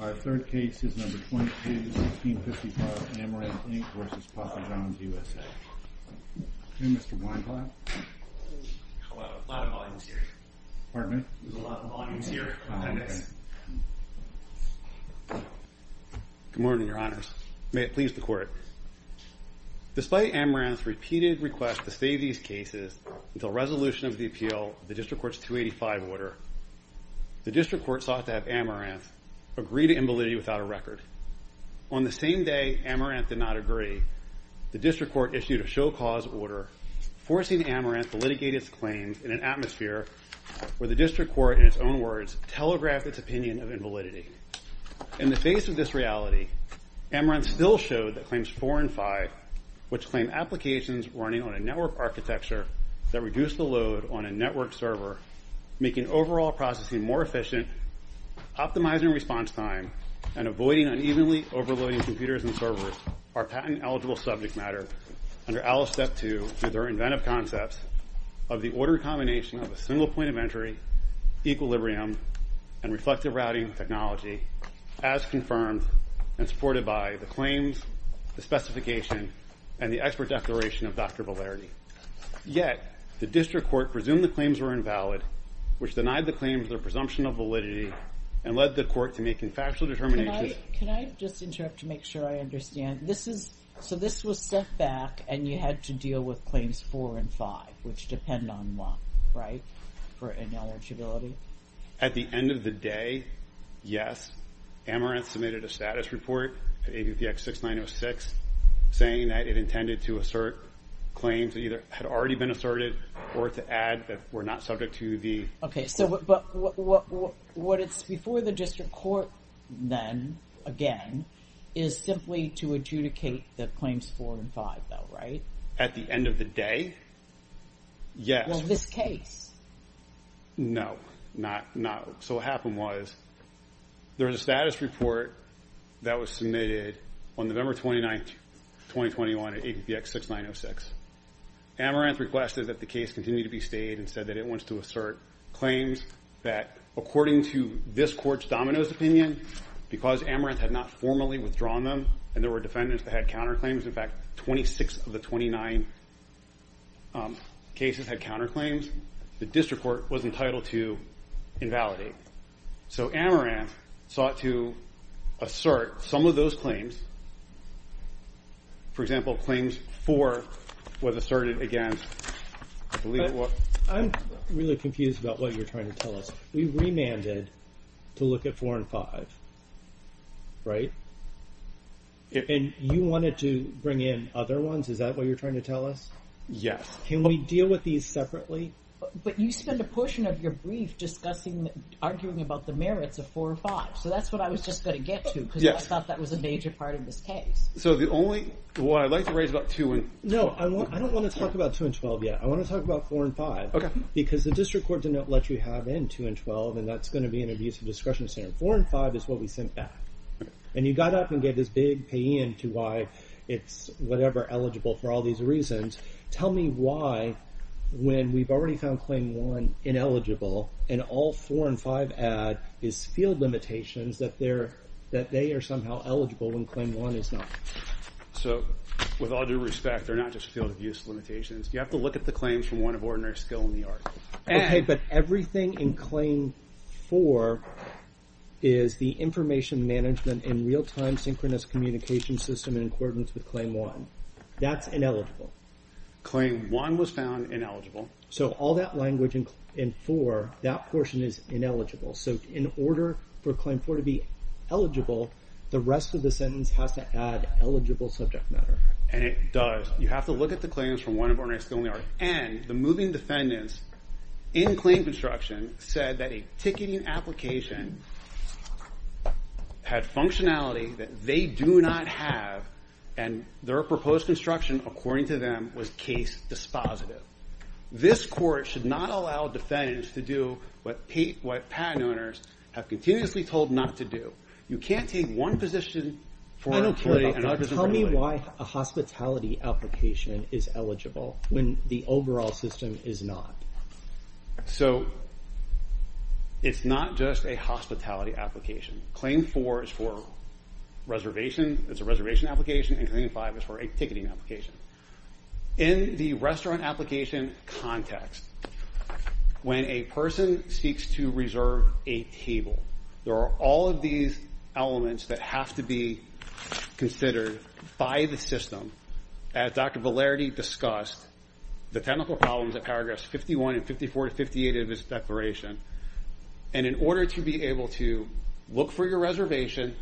221655, Amaranth, Inc. v. Papa John''s USA, Inc. On the same day, Amaranth did not agree. The District Court issued a show-cause order forcing Amaranth to litigate its claims in an atmosphere where the District Court, in its own words, telegraphed its opinion of invalidity. In the face of this reality, Amaranth still showed that Claims 4 and 5, which claim applications running on a network architecture that reduce the load on a network server, making overall processing more efficient, optimizing response time, and avoiding unevenly overloading computers and servers are patent-eligible subject matter under ALICE Step 2 through their inventive concepts of the ordered combination of a single point of entry, equilibrium, and reflective routing technology, as confirmed and supported by the claims, the specification, and the expert declaration of Dr. Valerde. Yet the District Court presumed the claims were invalid, which denied the claims their presumption of validity, and led the court to make infactual determinations... Can I just interrupt to make sure I understand? So this was set back, and you had to deal with Claims 4 and 5, which depend on law, right, for ineligibility? At the end of the day, yes. Amaranth submitted a status report at ABPX 6906 saying that it intended to assert claims that either had already been asserted or to add that were not subject to the... Okay, so what it's before the District Court then, again, is simply to adjudicate the Claims 4 and 5, though, right? At the end of the day, yes. Well, this case? No, not... So what happened was there was a status report that was submitted on November 29, 2021, at ABPX 6906. Amaranth requested that the case continue to be stayed and said that it wants to assert claims that according to this court's dominoes opinion, because Amaranth had not formally withdrawn them and there were defendants that had counterclaims, in fact, 26 of the 29 cases had counterclaims, the District Court was entitled to invalidate. So Amaranth sought to assert some of those claims, for example, Claims 4 was asserted against... I'm really confused about what you're trying to tell us. We remanded to look at 4 and 5, right? And you wanted to bring in other ones, is that what you're trying to tell us? Yes. Can we deal with these separately? But you spent a portion of your brief arguing about the merits of 4 and 5, so that's what I was just going to get to, because I thought that was a major part of this case. So the only... Well, I'd like to raise about 2 and... No, I don't want to talk about 2 and 12 yet. I want to talk about 4 and 5, because the District Court did not let you have in 2 and 12, and that's going to be an abusive discretion center. 4 and 5 is what we sent back. And you got up and gave this big pay-in to why it's, whatever, eligible for all these reasons. Tell me why, when we've already found Claim 1 ineligible and all 4 and 5 add is field limitations that they are somehow eligible when Claim 1 is not. So, with all due respect, they're not just field abuse limitations. You have to look at the claims from one of ordinary skill in the art. Okay, but everything in Claim 4 is the information management in real-time synchronous communication system in accordance with Claim 1. That's ineligible. Claim 1 was found ineligible. So all that language in 4, that portion is ineligible. So in order for Claim 4 to be eligible, the rest of the sentence has to add eligible subject matter. And it does. You have to look at the claims from one of ordinary skill in the art. And the moving defendants in claim construction said that a ticketing application had functionality that they do not have, and their proposed construction, according to them, was case dispositive. This court should not allow defendants to do what patent owners have continuously told not to do. You can't take one position... I don't care about that. Tell me why a hospitality application is eligible when the overall system is not. So, it's not just a hospitality application. Claim 4 is for reservation. It's a reservation application. And Claim 5 is for a ticketing application. In the restaurant application context, when a person seeks to reserve a table, there are all of these elements that have to be considered by the system. As Dr. Valerity discussed, the technical problems at paragraphs 51 and 54 to 58 of his declaration. And in order to be able to look for your reservation,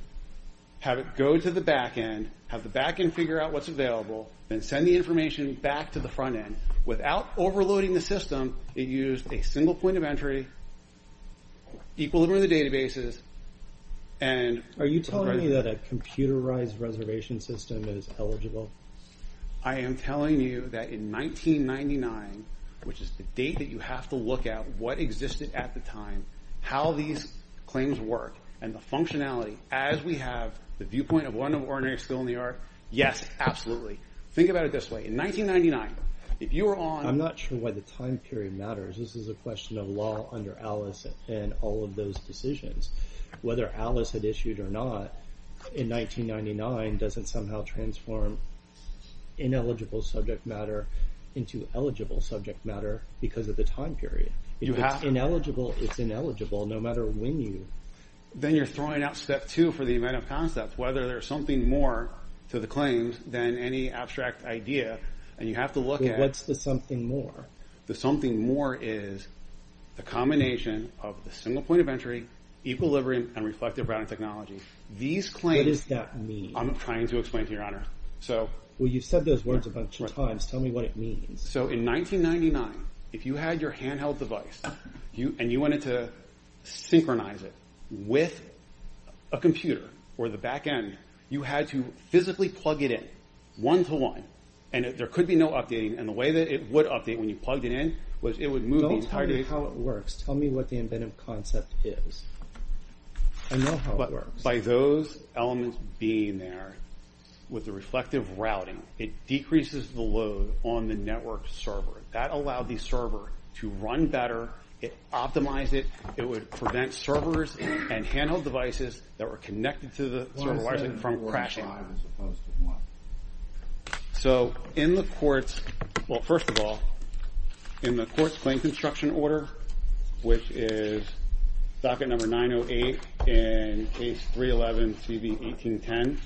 have it go to the back end, have the back end figure out what's available, then send the information back to the front end without overloading the system. It used a single point of entry, equilibrium of the databases, and... Are you telling me that a computerized reservation system is eligible? I am telling you that in 1999, which is the date that you have to look at what existed at the time, how these claims work, and the functionality as we have the viewpoint of one ordinary school in New York, yes, absolutely. Think about it this way. In 1999, if you were on... I'm not sure why the time period matters. This is a question of law under Alice and all of those decisions. Whether Alice had issued or not in 1999 doesn't somehow transform ineligible subject matter into eligible subject matter because of the time period. If it's ineligible, it's ineligible, no matter when you... Then you're throwing out step two for the event of concept, whether there's something more to the claims than any abstract idea, and you have to look at... What's the something more? The something more is the combination of the single point of entry, equilibrium, and reflective routing technology. These claims... What does that mean? I'm trying to explain to you, Your Honor. Well, you've said those words a bunch of times. Tell me what it means. So in 1999, if you had your handheld device and you wanted to synchronize it with a computer or the back end, you had to physically plug it in, one-to-one, and there could be no updating, and the way that it would update when you plugged it in was it would move... Don't tell me how it works. Tell me what the event of concept is. I know how it works. By those elements being there with the reflective routing, it decreases the load on the network server. That allowed the server to run better. It optimized it. It would prevent servers and handheld devices that were connected to the server from crashing. So in the court's... Well, first of all, in the court's claim construction order, which is docket number 908 in case 311, CB 1810,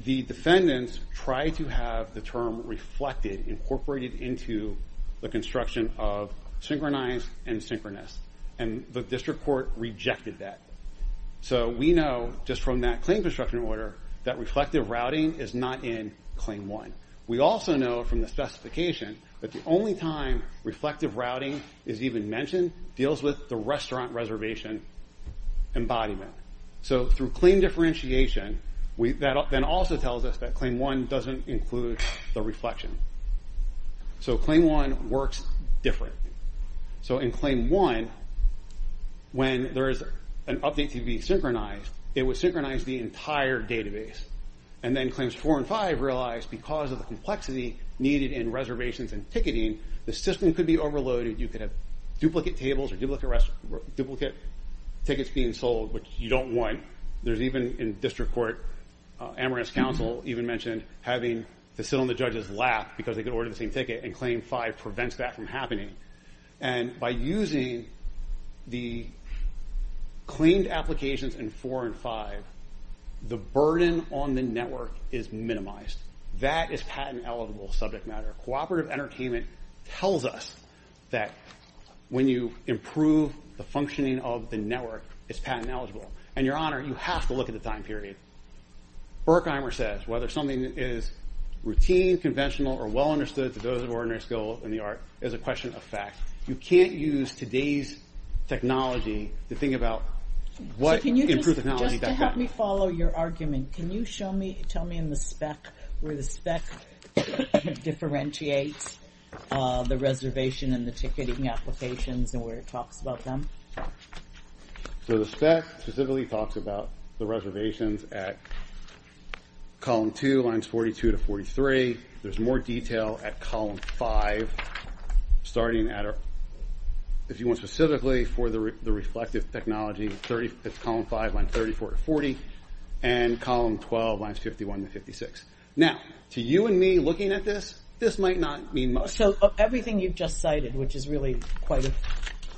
the defendants tried to have the term reflected, incorporated into the construction of synchronized and synchronous, and the district court rejected that. So we know just from that claim construction order that reflective routing is not in Claim 1. We also know from the specification that the only time reflective routing is even mentioned deals with the restaurant reservation embodiment. So through claim differentiation, that then also tells us that Claim 1 doesn't include the reflection. So Claim 1 works differently. So in Claim 1, when there is an update to be synchronized, it would synchronize the entire database. And then Claims 4 and 5 realized because of the complexity needed in reservations and ticketing, the system could be overloaded. You could have duplicate tables or duplicate tickets being sold, which you don't want. There's even, in district court, Amherst Council even mentioned having to sit on the judge's lap because they could order the same ticket, and Claim 5 prevents that from happening. And by using the claimed applications in 4 and 5, the burden on the network is minimized. That is patent eligible subject matter. Cooperative Entertainment tells us that when you improve the functioning of the network, it's patent eligible. And, Your Honor, you have to look at the time period. Berkheimer says, whether something is routine, conventional, or well understood to those of ordinary skill in the art is a question of fact. You can't use today's technology to think about what improved technology got done. So can you just, just to help me follow your argument, can you show me, tell me in the spec, where the spec differentiates the reservation and the ticketing applications and where it talks about them? So the spec specifically talks about the reservations at column 2, lines 42 to 43. There's more detail at column 5, starting at, if you want specifically, for the reflective technology, it's column 5, lines 34 to 40, and column 12, lines 51 to 56. Now, to you and me looking at this, this might not mean much. So everything you've just cited, which is really quite a,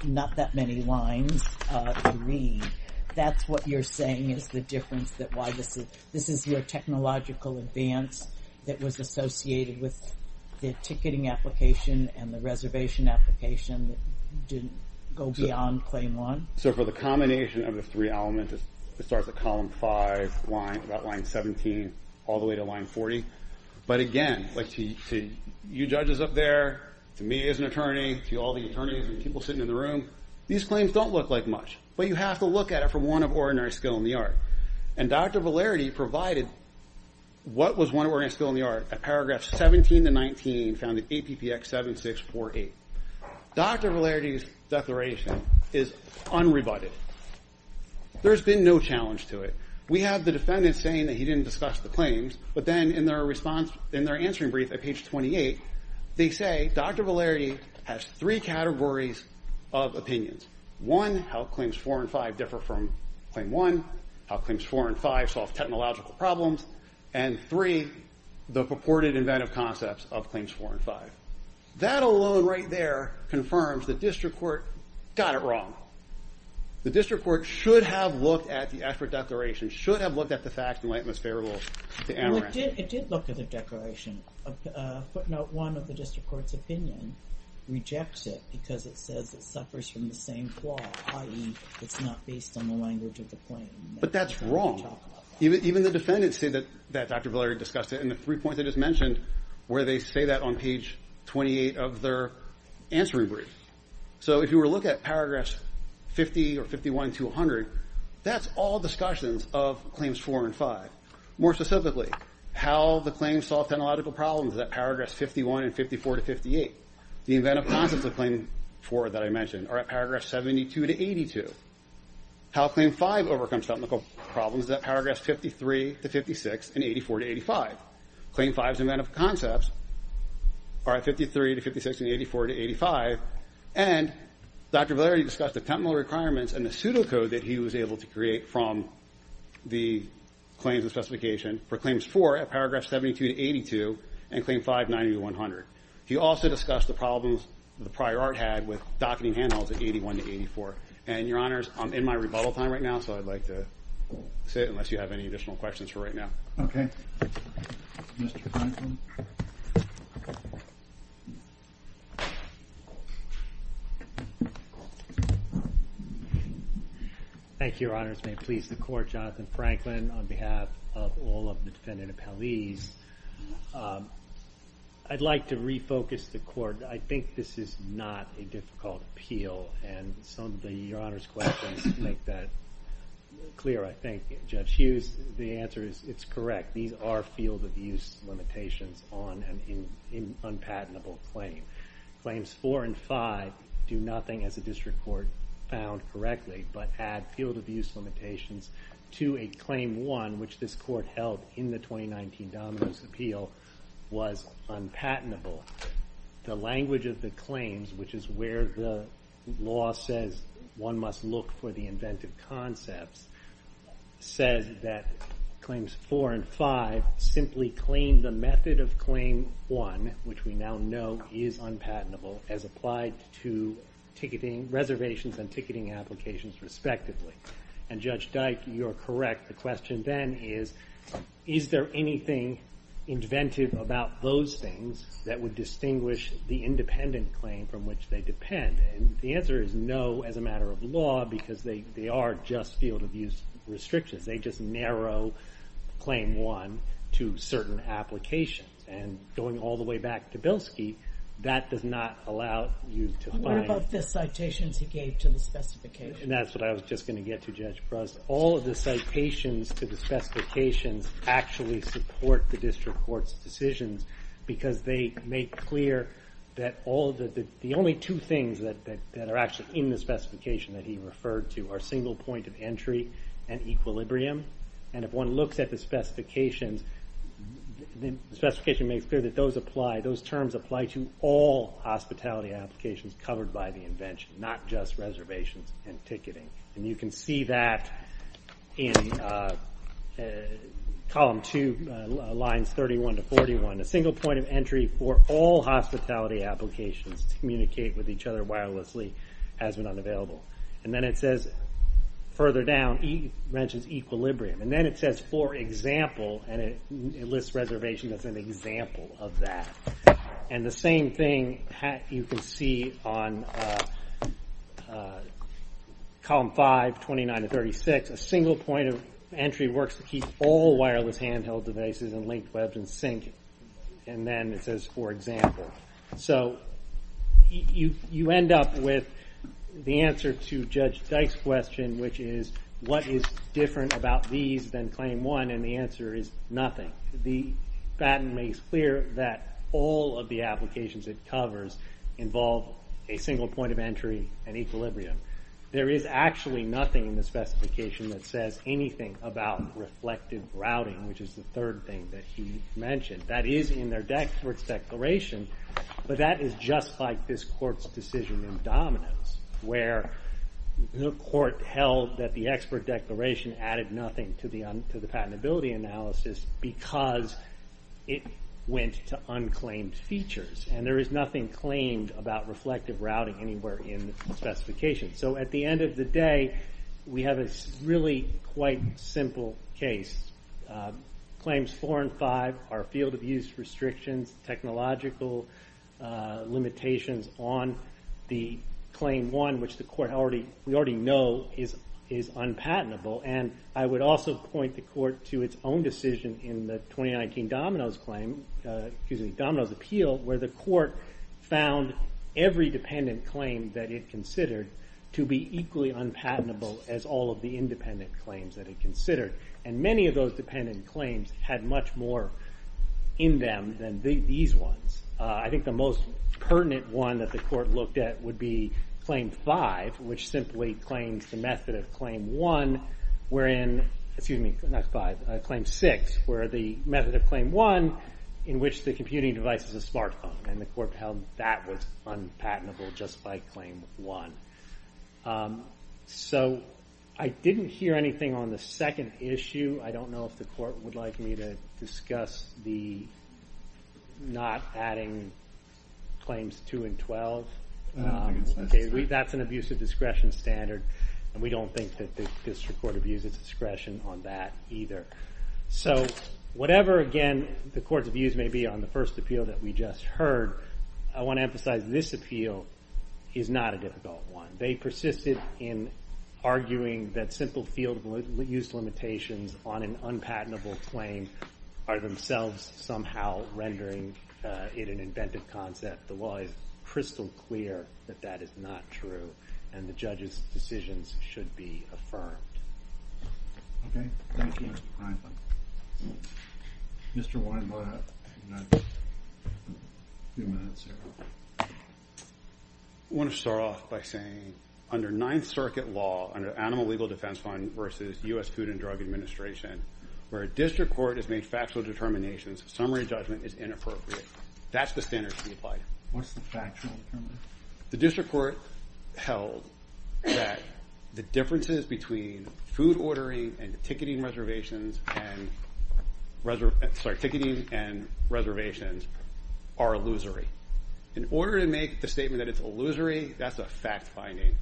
not that many lines to read, that's what you're saying is the difference, that why this is, this is your technological advance that was associated with the ticketing application and the reservation application that didn't go beyond claim 1? So for the combination of the three elements, it starts at column 5, line, about line 17, all the way to line 40. But again, like to you judges up there, to me as an attorney, to all the attorneys and people sitting in the room, these claims don't look like much. But you have to look at it from one of ordinary skill in the art. And Dr. Valerity provided what was one of ordinary skill in the art at paragraph 17 to 19, found in APPX 7648. Dr. Valerity's declaration is unrebutted. There's been no challenge to it. We have the defendant saying that he didn't discuss the claims, but then in their response, in their answering brief at page 28, they say Dr. Valerity has three categories of opinions. One, how claims 4 and 5 differ from claim 1, how claims 4 and 5 solve technological problems, and three, the purported inventive concepts of claims 4 and 5. That alone right there confirms the district court got it wrong. The district court should have looked at the expert declaration, should have looked at the facts and lay it most favorable to Amaranth. It did look at the declaration. Footnote 1 of the district court's opinion rejects it because it says it suffers from the same flaw, i.e. it's not based on the language of the claim. But that's wrong. Even the defendants say that Dr. Valerity discussed it in the three points I just mentioned where they say that on page 28 of their answering brief. So if you were to look at paragraphs 50 or 51 to 100, that's all discussions of claims 4 and 5. More specifically, how the claims solve technological problems at paragraphs 51 and 54 to 58. The inventive concepts of claim 4 that I mentioned are at paragraphs 72 to 82. How claim 5 overcomes technical problems is at paragraphs 53 to 56 and 84 to 85. Claim 5's inventive concepts are at 53 to 56 and 84 to 85. And Dr. Valerity discussed the technical requirements and the pseudocode that he was able to create from the claims and specification for claims 4 at paragraphs 72 to 82 and claim 5, 90 to 100. He also discussed the problems the prior art had with docketing handholds at 81 to 84. And, Your Honors, I'm in my rebuttal time right now, so I'd like to sit unless you have any additional questions for right now. Okay. Mr. Franklin. Thank you, Your Honors. May it please the Court, Jonathan Franklin on behalf of all of the defendant appellees. I'd like to refocus the Court. I think this is not a difficult appeal, and some of Your Honors' questions make that clear, I think. Judge Hughes, the answer is it's correct. These are field-of-use limitations on an unpatentable claim. Claims 4 and 5 do nothing, as the District Court found correctly, but add field-of-use limitations to a Claim 1, which this Court held in the 2019 Domino's Appeal, was unpatentable. The language of the claims, which is where the law says one must look for the inventive concepts, says that Claims 4 and 5 simply claim the method of Claim 1, which we now know is unpatentable, as applied to reservations and ticketing applications, respectively. And, Judge Dyke, you are correct. The question then is, is there anything inventive about those things that would distinguish the independent claim from which they depend? And the answer is no, as a matter of law, because they are just field-of-use restrictions. They just narrow Claim 1 to certain applications. And going all the way back to Bilski, that does not allow you to find... What about the citations he gave to the specifications? That's what I was just going to get to, Judge Bruss. All of the citations to the specifications actually support the District Court's decisions because they make clear that the only two things that are actually in the specification that he referred to are single point of entry and equilibrium. And if one looks at the specifications, the specification makes clear that those terms apply to all hospitality applications covered by the invention, not just reservations and ticketing. And you can see that in column 2, lines 31 to 41, a single point of entry for all hospitality applications to communicate with each other wirelessly has been unavailable. And then it says, further down, it mentions equilibrium. And then it says, for example, and it lists reservation as an example of that. And the same thing you can see on column 5, 29 to 36. A single point of entry works to keep all wireless handheld devices and linked webs in sync. And then it says, for example. So you end up with the answer to Judge Dyke's question, which is, what is different about these than claim 1? And the answer is nothing. The patent makes clear that all of the applications it covers involve a single point of entry and equilibrium. There is actually nothing in the specification that says anything about reflective routing, which is the third thing that he mentioned. That is in their expert's declaration, but that is just like this court's decision in Dominos, where the court held that the expert declaration added nothing to the patentability analysis because it went to unclaimed features. And there is nothing claimed about reflective routing anywhere in the specification. So at the end of the day, we have a really quite simple case that claims 4 and 5 are field of use restrictions, technological limitations on the claim 1, which the court already knows is unpatentable. And I would also point the court to its own decision in the 2019 Dominos appeal, where the court found every dependent claim that it considered to be equally unpatentable as all of the independent claims that it considered. And many of those dependent claims had much more in them than these ones. I think the most pertinent one that the court looked at would be claim 5, which simply claims the method of claim 1, wherein, excuse me, not 5, claim 6, where the method of claim 1, in which the computing device is a smartphone, and the court held that was unpatentable just by claim 1. So I didn't hear anything on the second issue. I don't know if the court would like me to discuss the not adding claims 2 and 12. That's an abuse of discretion standard, and we don't think that this court abuses discretion on that either. So whatever, again, the court's views may be on the first appeal that we just heard, I want to emphasize this appeal is not a difficult one. They persisted in arguing that simple field use limitations on an unpatentable claim are themselves somehow rendering it an inventive concept. The law is crystal clear that that is not true, and the judge's decisions should be affirmed. Okay, thank you, Mr. Kreisman. Mr. Weinblatt, you have a few minutes here. I want to start off by saying under Ninth Circuit law, under Animal Legal Defense Fund versus U.S. Food and Drug Administration, where a district court has made factual determinations, summary judgment is inappropriate. That's the standard to be applied. What's the factual determination? The district court held that the differences between food ordering and ticketing reservations and reservations are illusory. In order to make the statement that it's illusory, that's a fact-finding.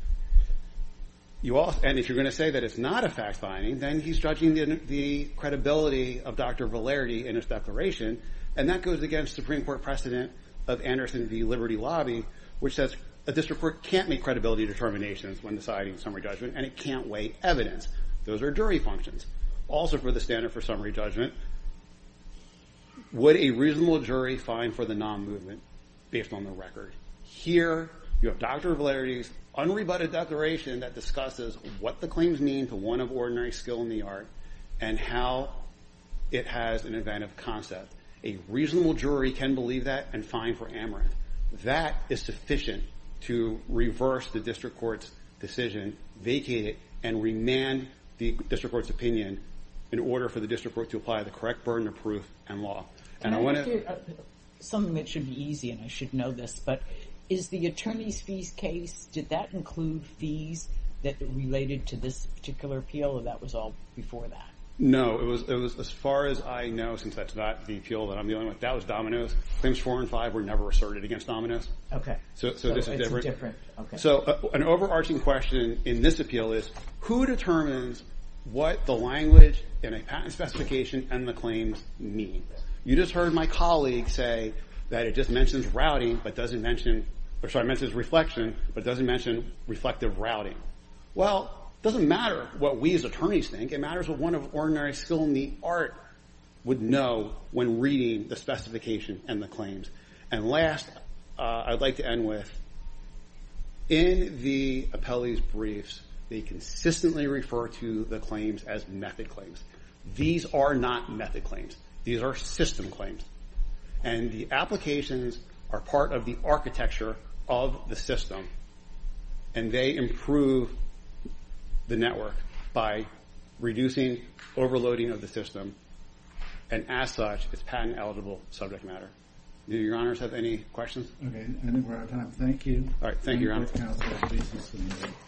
And if you're going to say that it's not a fact-finding, then he's judging the credibility of Dr. Valeri in his declaration, and that goes against Supreme Court precedent of Anderson v. Liberty Lobby, which says a district court can't make credibility determinations when deciding summary judgment, and it can't weigh evidence. Those are jury functions. Also for the standard for summary judgment, would a reasonable jury fine for the non-movement based on the record? Here you have Dr. Valeri's unrebutted declaration that discusses what the claims mean to one of ordinary skill in the art and how it has an inventive concept. A reasonable jury can believe that and fine for amorant. That is sufficient to reverse the district court's decision, vacate it, and remand the district court's opinion in order for the district court to apply the correct burden of proof and law. And I want to... Something that should be easy, and I should know this, but is the attorney's fees case, did that include fees that related to this particular appeal, or that was all before that? No, it was as far as I know, since that's not the appeal that I'm dealing with, that was Domino's. Claims 4 and 5 were never asserted against Domino's. Okay, so it's different. So an overarching question in this appeal is, who determines what the language in a patent specification and the claims mean? You just heard my colleague say that it just mentions routing, but doesn't mention... I'm sorry, it mentions reflection, but doesn't mention reflective routing. Well, it doesn't matter what we as attorneys think. It matters what one of ordinary skill in the art would know when reading the specification and the claims. And last, I'd like to end with, in the appellee's briefs, they consistently refer to the claims as method claims. These are not method claims. These are system claims. And the applications are part of the architecture of the system, and they improve the network by reducing overloading of the system, and as such, it's patent-eligible subject matter. Do your honors have any questions? Okay, I think we're out of time. Thank you. All right, thank you, Your Honor.